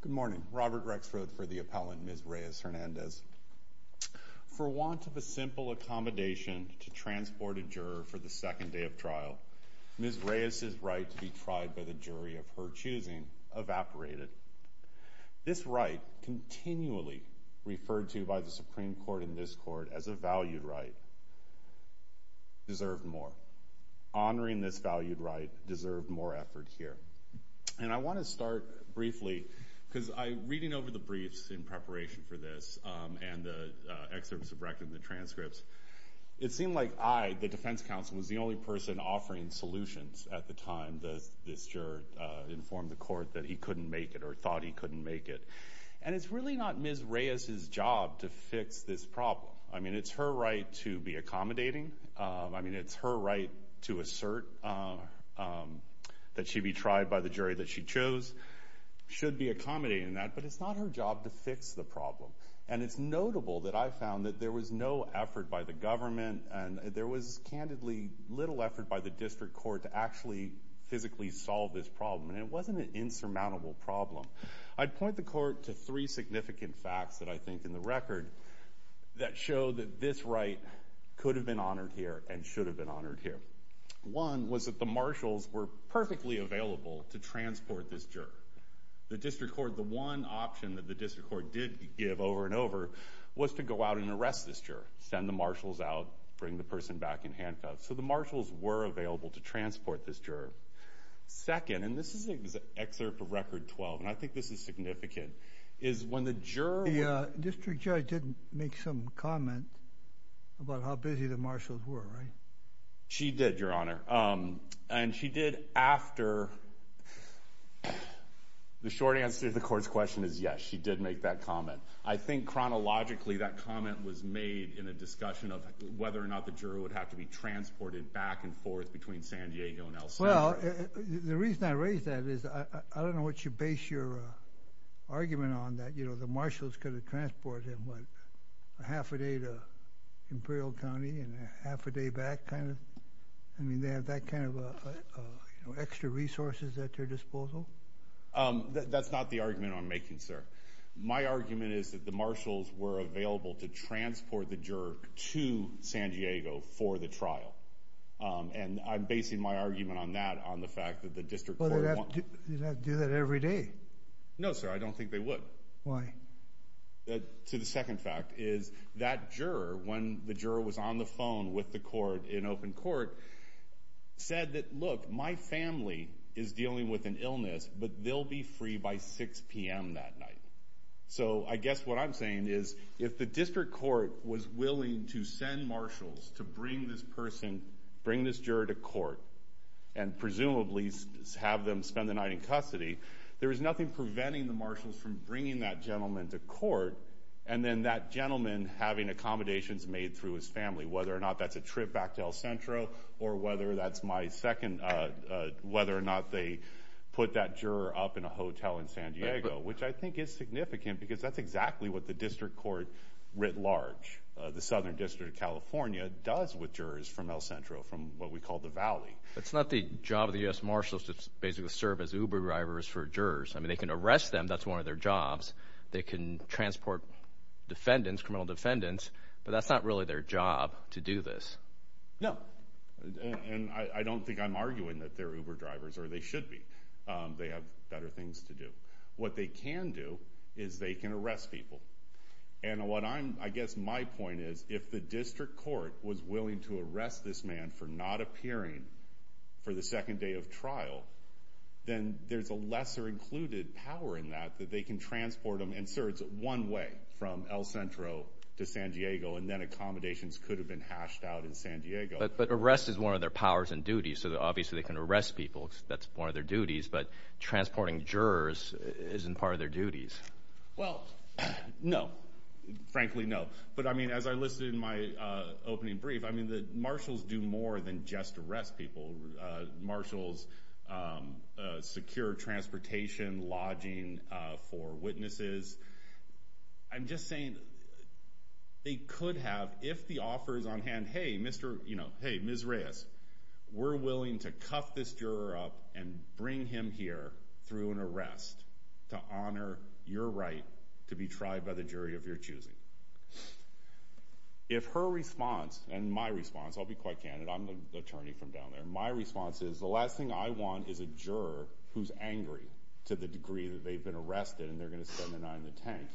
Good morning, Robert Rexroth for the Appellant, Ms. Reyes-Hernandez. For want of a simple accommodation to transport a juror for the second day of trial, Ms. Reyes's right to be tried by the jury of her choosing evaporated. This right, continually referred to by the Supreme Court and this Court as a valued right, deserved more. Honoring this valued right deserved more effort here. And I want to start briefly, because I, reading over the briefs in preparation for this, and the excerpts of the transcripts, it seemed like I, the defense counsel, was the only person offering solutions at the time this juror informed the Court that he couldn't make it or thought he couldn't make it. And it's really not Ms. Reyes's job to fix this problem. I mean, it's her right to be accommodating. I mean, it's her right to assert that she'd be tried by the jury that she chose. Should be accommodating that, but it's not her job to fix the problem. And it's notable that I found that there was no effort by the government and there was candidly, little effort by the District Court to actually physically solve this problem. And it wasn't an insurmountable problem. I'd point the Court to three significant facts that I think in the record that show that this right could have been honored here and should have been honored here. One was that the marshals were perfectly available to transport this juror. The District Court, the one option that the District Court did give over and over was to go out and arrest this juror, send the marshals out, bring the person back in handcuffs. So the marshals were available to transport this juror. Second, and this is an excerpt of Record 12, and I think this is significant, is when the about how busy the marshals were, right? She did, Your Honor. And she did after... The short answer to the Court's question is yes, she did make that comment. I think chronologically that comment was made in a discussion of whether or not the juror would have to be transported back and forth between San Diego and El Salvador. Well, the reason I raise that is I don't know what you base your argument on that, you know, the marshals could have transported him, what, a half a day to Imperial County and a half a day back, kind of? I mean, they have that kind of extra resources at their disposal? That's not the argument I'm making, sir. My argument is that the marshals were available to transport the juror to San Diego for the trial. And I'm basing my argument on that, on the fact that the District Court... But they'd have to do that every day. No, sir, I don't think they would. Why? To the second fact is that juror, when the juror was on the phone with the court in open court, said that, look, my family is dealing with an illness, but they'll be free by 6 p.m. that night. So I guess what I'm saying is if the District Court was willing to send marshals to bring this person, bring this juror to court, and presumably have them spend the night in custody, there is nothing preventing the marshals from bringing that gentleman to court and then that gentleman having accommodations made through his family, whether or not that's a trip back to El Centro or whether that's my second... Whether or not they put that juror up in a hotel in San Diego, which I think is significant because that's exactly what the District Court writ large, the Southern District of California, does with jurors from El Centro, from what we call the Valley. It's not the job of the U.S. Marshals to basically serve as Uber drivers for jurors. I mean, they can arrest them. That's one of their jobs. They can transport defendants, criminal defendants, but that's not really their job to do this. No. And I don't think I'm arguing that they're Uber drivers or they should be. They have better things to do. What they can do is they can arrest people. And what I'm... For the second day of trial, then there's a lesser included power in that, that they can transport them. And sir, it's one way from El Centro to San Diego, and then accommodations could have been hashed out in San Diego. But arrest is one of their powers and duties, so obviously they can arrest people. That's one of their duties. But transporting jurors isn't part of their duties. Well, no, frankly no. But I mean, as I listed in my opening brief, I mean, the marshals do more than just arrest people. Marshals secure transportation, lodging for witnesses. I'm just saying they could have, if the offer is on hand, hey, Mr., hey, Ms. Reyes, we're willing to cuff this juror up and bring him here through an arrest to honor your right to be tried by the jury of your choosing. If her response, and my response, I'll be quite candid, I'm the attorney from down there. My response is, the last thing I want is a juror who's angry to the degree that they've been arrested and they're going to spend an eye on the tank.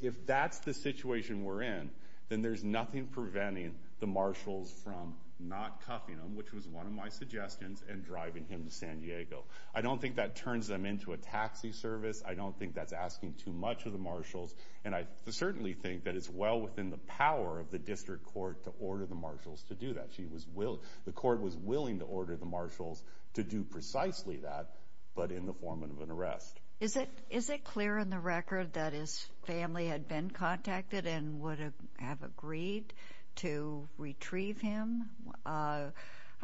If that's the situation we're in, then there's nothing preventing the marshals from not cuffing him, which was one of my suggestions, and driving him to San Diego. I don't think that turns them into a taxi service. I don't think that's asking too much of the marshals. I certainly think that it's well within the power of the district court to order the marshals to do that. The court was willing to order the marshals to do precisely that, but in the form of an arrest. Is it clear in the record that his family had been contacted and would have agreed to retrieve him? I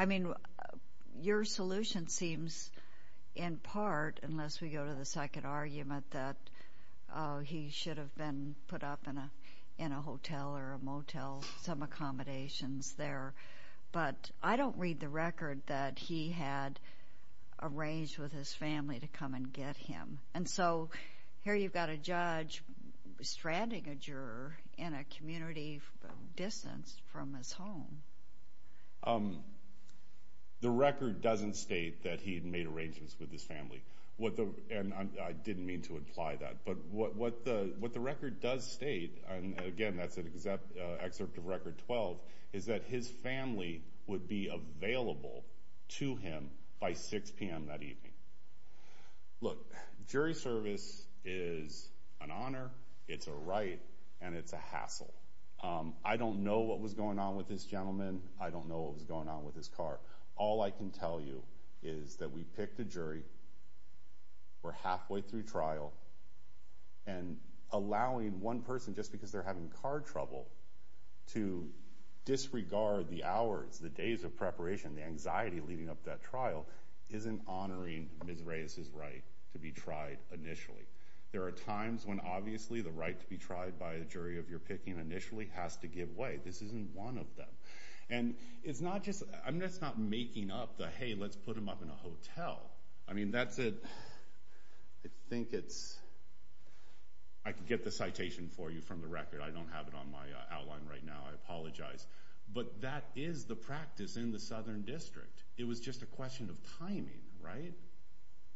mean, your solution seems, in part, unless we go to the second argument, that he should have been put up in a hotel or a motel, some accommodations there. But I don't read the record that he had arranged with his family to come and get him. And so here you've got a judge stranding a juror in a community distance from his home. The record doesn't state that he had made arrangements with his family, and I didn't mean to imply that. But what the record does state, and again, that's an excerpt of Record 12, is that his family would be available to him by 6 p.m. that evening. Look, jury service is an honor, it's a right, and it's a hassle. I don't know what was going on with this gentleman. I don't know what was going on with his car. All I can tell you is that we picked a jury, we're halfway through trial, and allowing one person, just because they're having car trouble, to disregard the hours, the days of preparation, the anxiety leading up to that trial, isn't honoring Ms. Reyes's right to be tried initially. There are times when, obviously, the right to be tried by a jury of your picking initially has to give way. This isn't one of them. And it's not just, I mean, that's not making up the, hey, let's put him up in a hotel. I mean, that's a, I think it's, I can get the citation for you from the record. I don't have it on my outline right now, I apologize. But that is the practice in the Southern District. It was just a question of timing, right?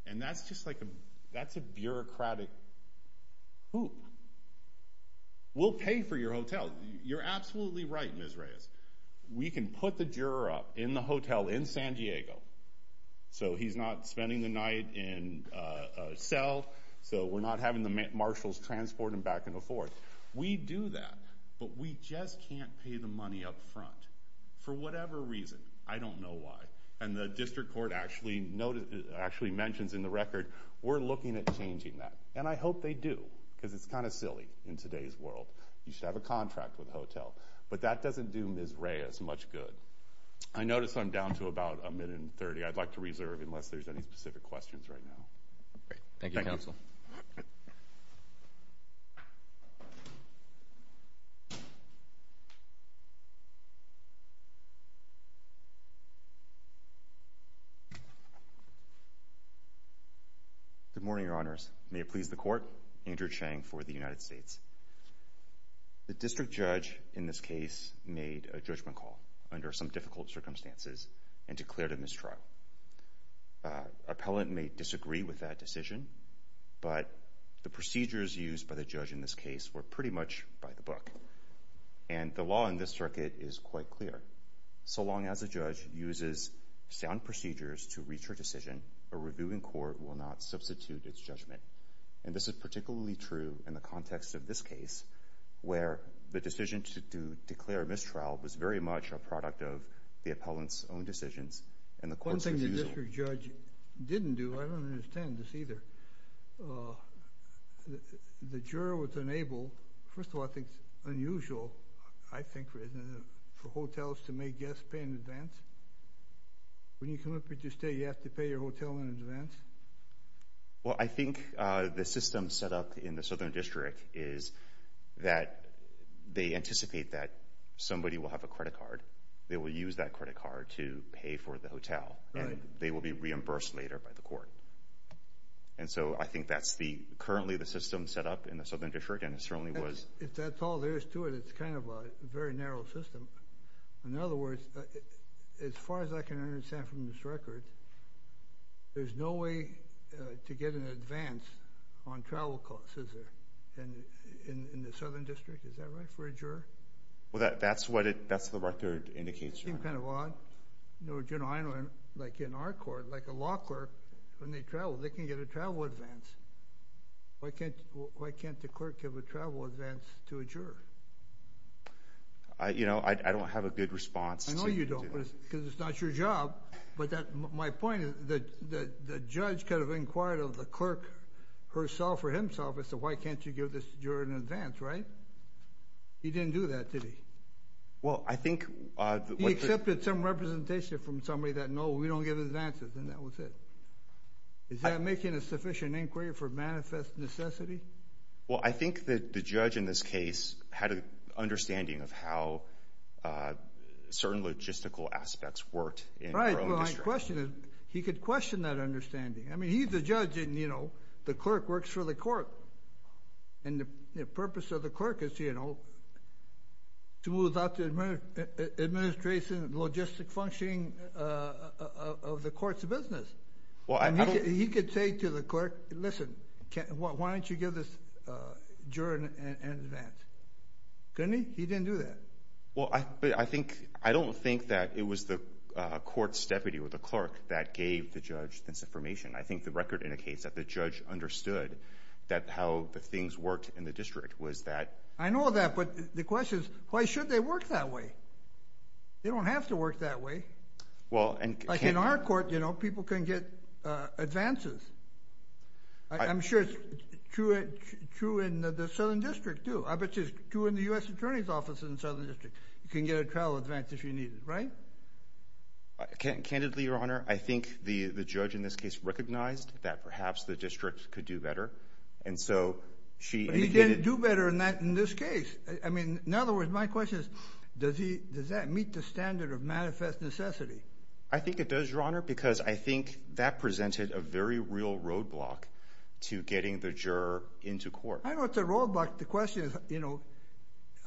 And that's just like a, that's a bureaucratic hoop. We'll pay for your hotel. You're absolutely right, Ms. Reyes. We can put the juror up in the hotel in San Diego, so he's not spending the night in cell, so we're not having the marshals transport him back and forth. We do that, but we just can't pay the money up front. For whatever reason, I don't know why. And the District Court actually mentions in the record, we're looking at changing that. And I hope they do, because it's kind of silly in today's world. You should have a contract with a hotel. But that doesn't do Ms. Reyes much good. I notice I'm down to about a minute and 30. I'd like to reserve unless there's any specific questions right now. Thank you, Counsel. Good morning, Your Honors. May it please the Court. Andrew Chang for the United States. The District Judge in this case made a judgment call under some difficult circumstances and declared a mistrial. Appellant may disagree with that decision, but the procedures used by the judge in this case were pretty much by the book. And the law in this circuit is quite clear. So long as a judge uses sound procedures to reach her decision, a reviewing court will not substitute its judgment. And this is particularly true in the context of this case, where the decision to declare a mistrial was very much a product of the appellant's own decisions. One thing the District Judge didn't do, I don't understand this either, the juror was unable, first of all, I think it's unusual, I think for hotels to make guests pay in advance. When you come up here to stay, you have to pay your hotel in advance? Well, I think the system set up in the Southern District is that they anticipate that somebody will have a credit card. They will use that credit card to pay for the hotel, and they will be reimbursed later by the court. And so I think that's currently the system set up in the Southern District, and it certainly was. If that's all there is to it, it's kind of a very narrow system. In other words, as far as I can understand from this record, there's no way to get an advance on travel costs, is there, in the Southern District, is that right, for a juror? Well, that's what the record indicates, Your Honor. That's kind of odd. You know, I know in our court, like a law clerk, when they travel, they can get a travel advance. Why can't the clerk give a travel advance to a juror? You know, I don't have a good response to that. I know you don't, because it's not your job, but my point is that the judge could have inquired of the clerk herself or himself and said, why can't you give this juror an advance, right? He didn't do that, did he? Well, I think... He accepted some representation from somebody that, no, we don't give advances, and that was it. Is that making a sufficient inquiry for manifest necessity? Well, I think that the judge in this case had an understanding of how certain logistical aspects worked in the rural district. Right. He could question that understanding. I mean, he's the judge, and, you know, the clerk works for the court, and the purpose of the clerk is, you know, to move out the administration, logistic functioning of the court's business. Well, I don't... He could say to the clerk, listen, why don't you give this juror an advance? Couldn't he? He didn't do that. Well, I think... I don't think that it was the court's deputy or the clerk that gave the judge this information. I think the record indicates that the judge understood that how the things worked in the I know that, but the question is, why should they work that way? They don't have to work that way. Well, and... Like, in our court, you know, people can get advances. I'm sure it's true in the Southern District, too. I bet you it's true in the U.S. Attorney's Office in the Southern District. You can get a trial advance if you need it, right? Candidly, Your Honor, I think the judge in this case recognized that perhaps the district could do better, and so she... Could do better in that... In this case. I mean, in other words, my question is, does that meet the standard of manifest necessity? I think it does, Your Honor, because I think that presented a very real roadblock to getting the juror into court. I know it's a roadblock. The question is, you know,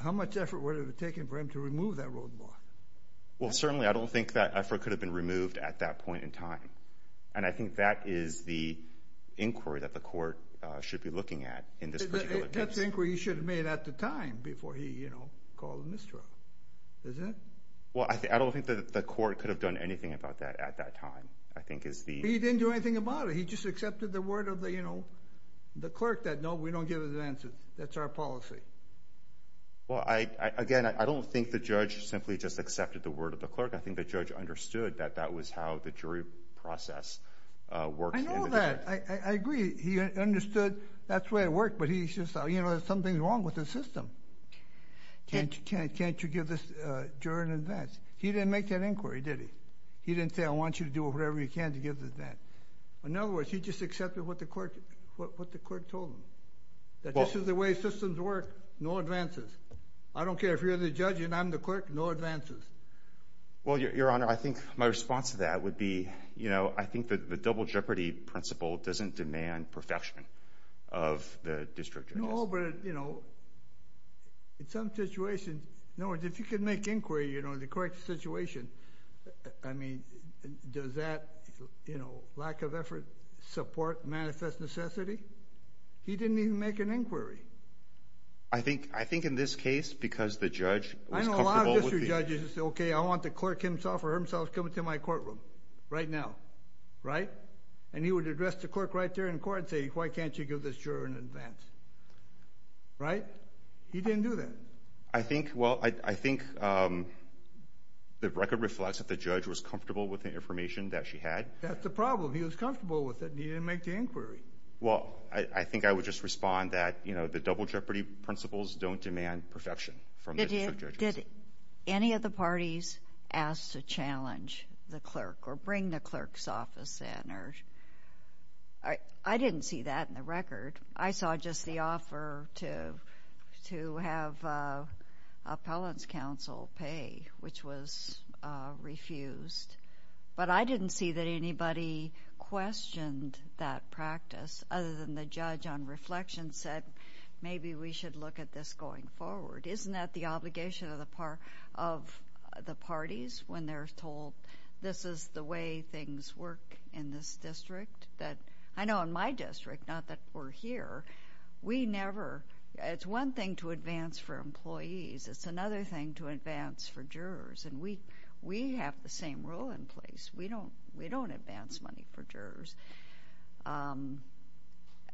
how much effort would it have taken for him to remove that roadblock? Well, certainly, I don't think that effort could have been removed at that point in time, and I think that is the inquiry that the court should be looking at in this particular case. That's an inquiry he should have made at the time before he, you know, called in this trial, isn't it? Well, I don't think that the court could have done anything about that at that time, I think is the... He didn't do anything about it. He just accepted the word of the, you know, the clerk that, no, we don't give advances. That's our policy. Well, again, I don't think the judge simply just accepted the word of the clerk. I think the judge understood that that was how the jury process worked in the district. I know that. I agree. He understood that's the way it worked, but he's just, you know, there's something wrong with the system. Can't you give this jury an advance? He didn't make that inquiry, did he? He didn't say, I want you to do whatever you can to give the advance. In other words, he just accepted what the court told him, that this is the way systems work, no advances. I don't care if you're the judge and I'm the clerk, no advances. Well, Your Honor, I think my response to that would be, you know, I think that the double jeopardy principle doesn't demand perfection of the district judges. No, but, you know, in some situations, in other words, if you can make inquiry, you know, in the correct situation, I mean, does that, you know, lack of effort support manifest necessity? He didn't even make an inquiry. I think in this case, because the judge was comfortable with the- I know a lot of district judges that say, okay, I want the clerk himself or herself coming to my courtroom right now. Right? And he would address the clerk right there in court and say, why can't you give this juror an advance? Right? He didn't do that. I think, well, I think the record reflects that the judge was comfortable with the information that she had. That's the problem. He was comfortable with it and he didn't make the inquiry. Well, I think I would just respond that, you know, the double jeopardy principles don't demand perfection from the district judges. Did any of the parties ask to challenge the clerk or bring the clerk's office in? I didn't see that in the record. I saw just the offer to have appellant's counsel pay, which was refused. But I didn't see that anybody questioned that practice other than the judge on reflection said maybe we should look at this going forward. Isn't that the obligation of the parties when they're told this is the way things work in this district? That, I know in my district, not that we're here, we never, it's one thing to advance for employees. It's another thing to advance for jurors and we have the same rule in place. We don't advance money for jurors.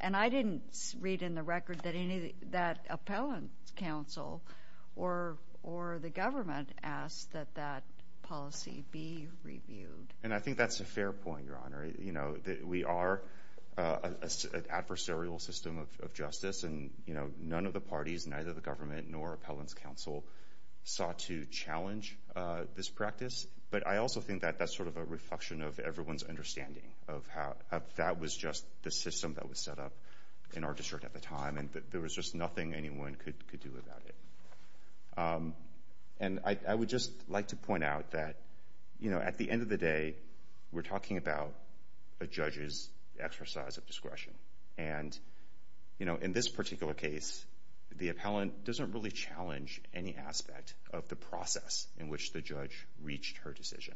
And I didn't read in the record that appellant's counsel or the government asked that that policy be reviewed. And I think that's a fair point, Your Honor. You know, we are an adversarial system of justice and, you know, none of the parties, neither the government nor appellant's counsel sought to challenge this practice. But I also think that that's sort of a reflection of everyone's understanding of how that was just the system that was set up in our district at the time and that there was just nothing anyone could do about it. And I would just like to point out that, you know, at the end of the day, we're talking about a judge's exercise of discretion. And, you know, in this particular case, the appellant doesn't really challenge any aspect of the process in which the judge reached her decision.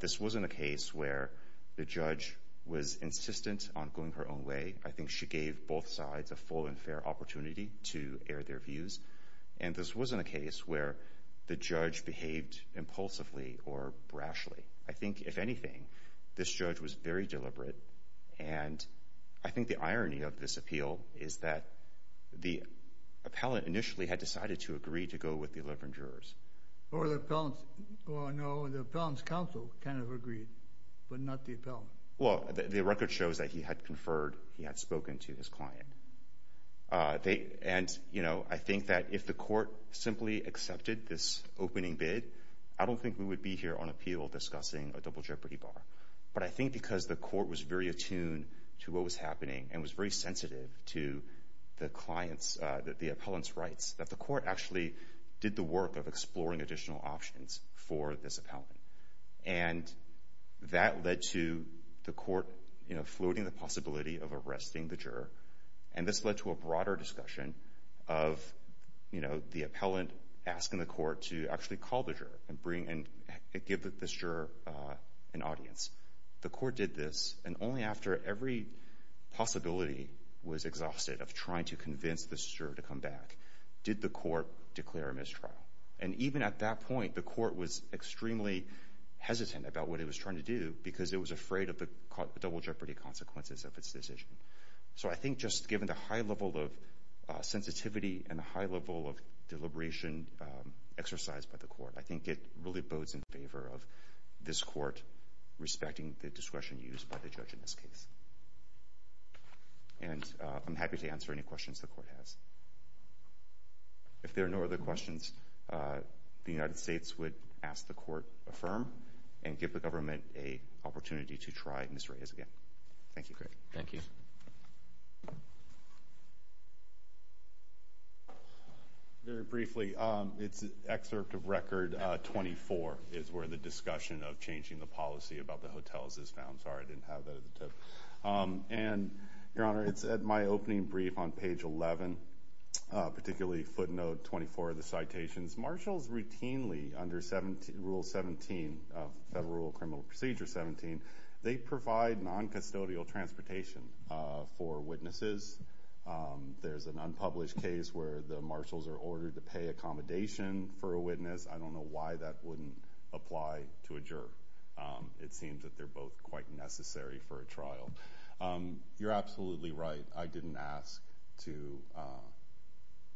This wasn't a case where the judge was insistent on going her own way. I think she gave both sides a full and fair opportunity to air their views. And this wasn't a case where the judge behaved impulsively or brashly. I think, if anything, this judge was very deliberate. And I think the irony of this appeal is that the appellant initially had decided to agree to go with the 11 jurors. Or the appellant's counsel kind of agreed, but not the appellant. Well, the record shows that he had conferred, he had spoken to his client. And I think that if the court simply accepted this opening bid, I don't think we would be here on appeal discussing a double jeopardy bar. But I think because the court was very attuned to what was happening and was very sensitive to the client's, the appellant's rights, that the court actually did the work of exploring additional options for this appellant. And that led to the court, you know, floating the possibility of arresting the juror. And this led to a broader discussion of, you know, the appellant asking the court to actually call the juror and bring, and give this juror an audience. The court did this. And only after every possibility was exhausted of trying to convince the juror to come back did the court declare a mistrial. And even at that point, the court was extremely hesitant about what it was trying to do because it was afraid of the double jeopardy consequences of its decision. So I think just given the high level of sensitivity and the high level of deliberation exercised by the court, I think it really bodes in favor of this court respecting the discretion used by the judge in this case. And I'm happy to answer any questions the court has. If there are no other questions, the United States would ask the court affirm and give the government a opportunity to try Miss Reyes again. Thank you. Great. Thank you. Very briefly, it's excerpt of record 24 is where the discussion of changing the policy about the hotels is found. Sorry, I didn't have that at the tip. And, Your Honor, it's at my opening brief on page 11, particularly footnote 24 of the citations. Marshals routinely under Rule 17, Federal Rule of Criminal Procedure 17, they provide noncustodial transportation for witnesses. There's an unpublished case where the marshals are ordered to pay accommodation for a witness. I don't know why that wouldn't apply to a juror. It seems that they're both quite necessary for a trial. You're absolutely right. I didn't ask to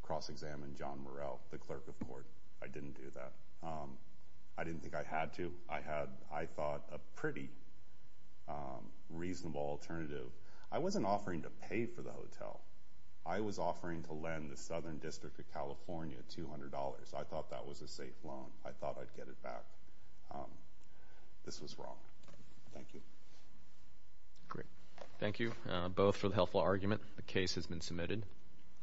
cross-examine John Murrell, the clerk of court. I didn't do that. I didn't think I had to. I had, I thought, a pretty reasonable alternative. I wasn't offering to pay for the hotel. I was offering to lend the Southern District of California $200. I thought that was a safe loan. I thought I'd get it back. This was wrong. Thank you. Great. Thank you both for the helpful argument. The case has been submitted.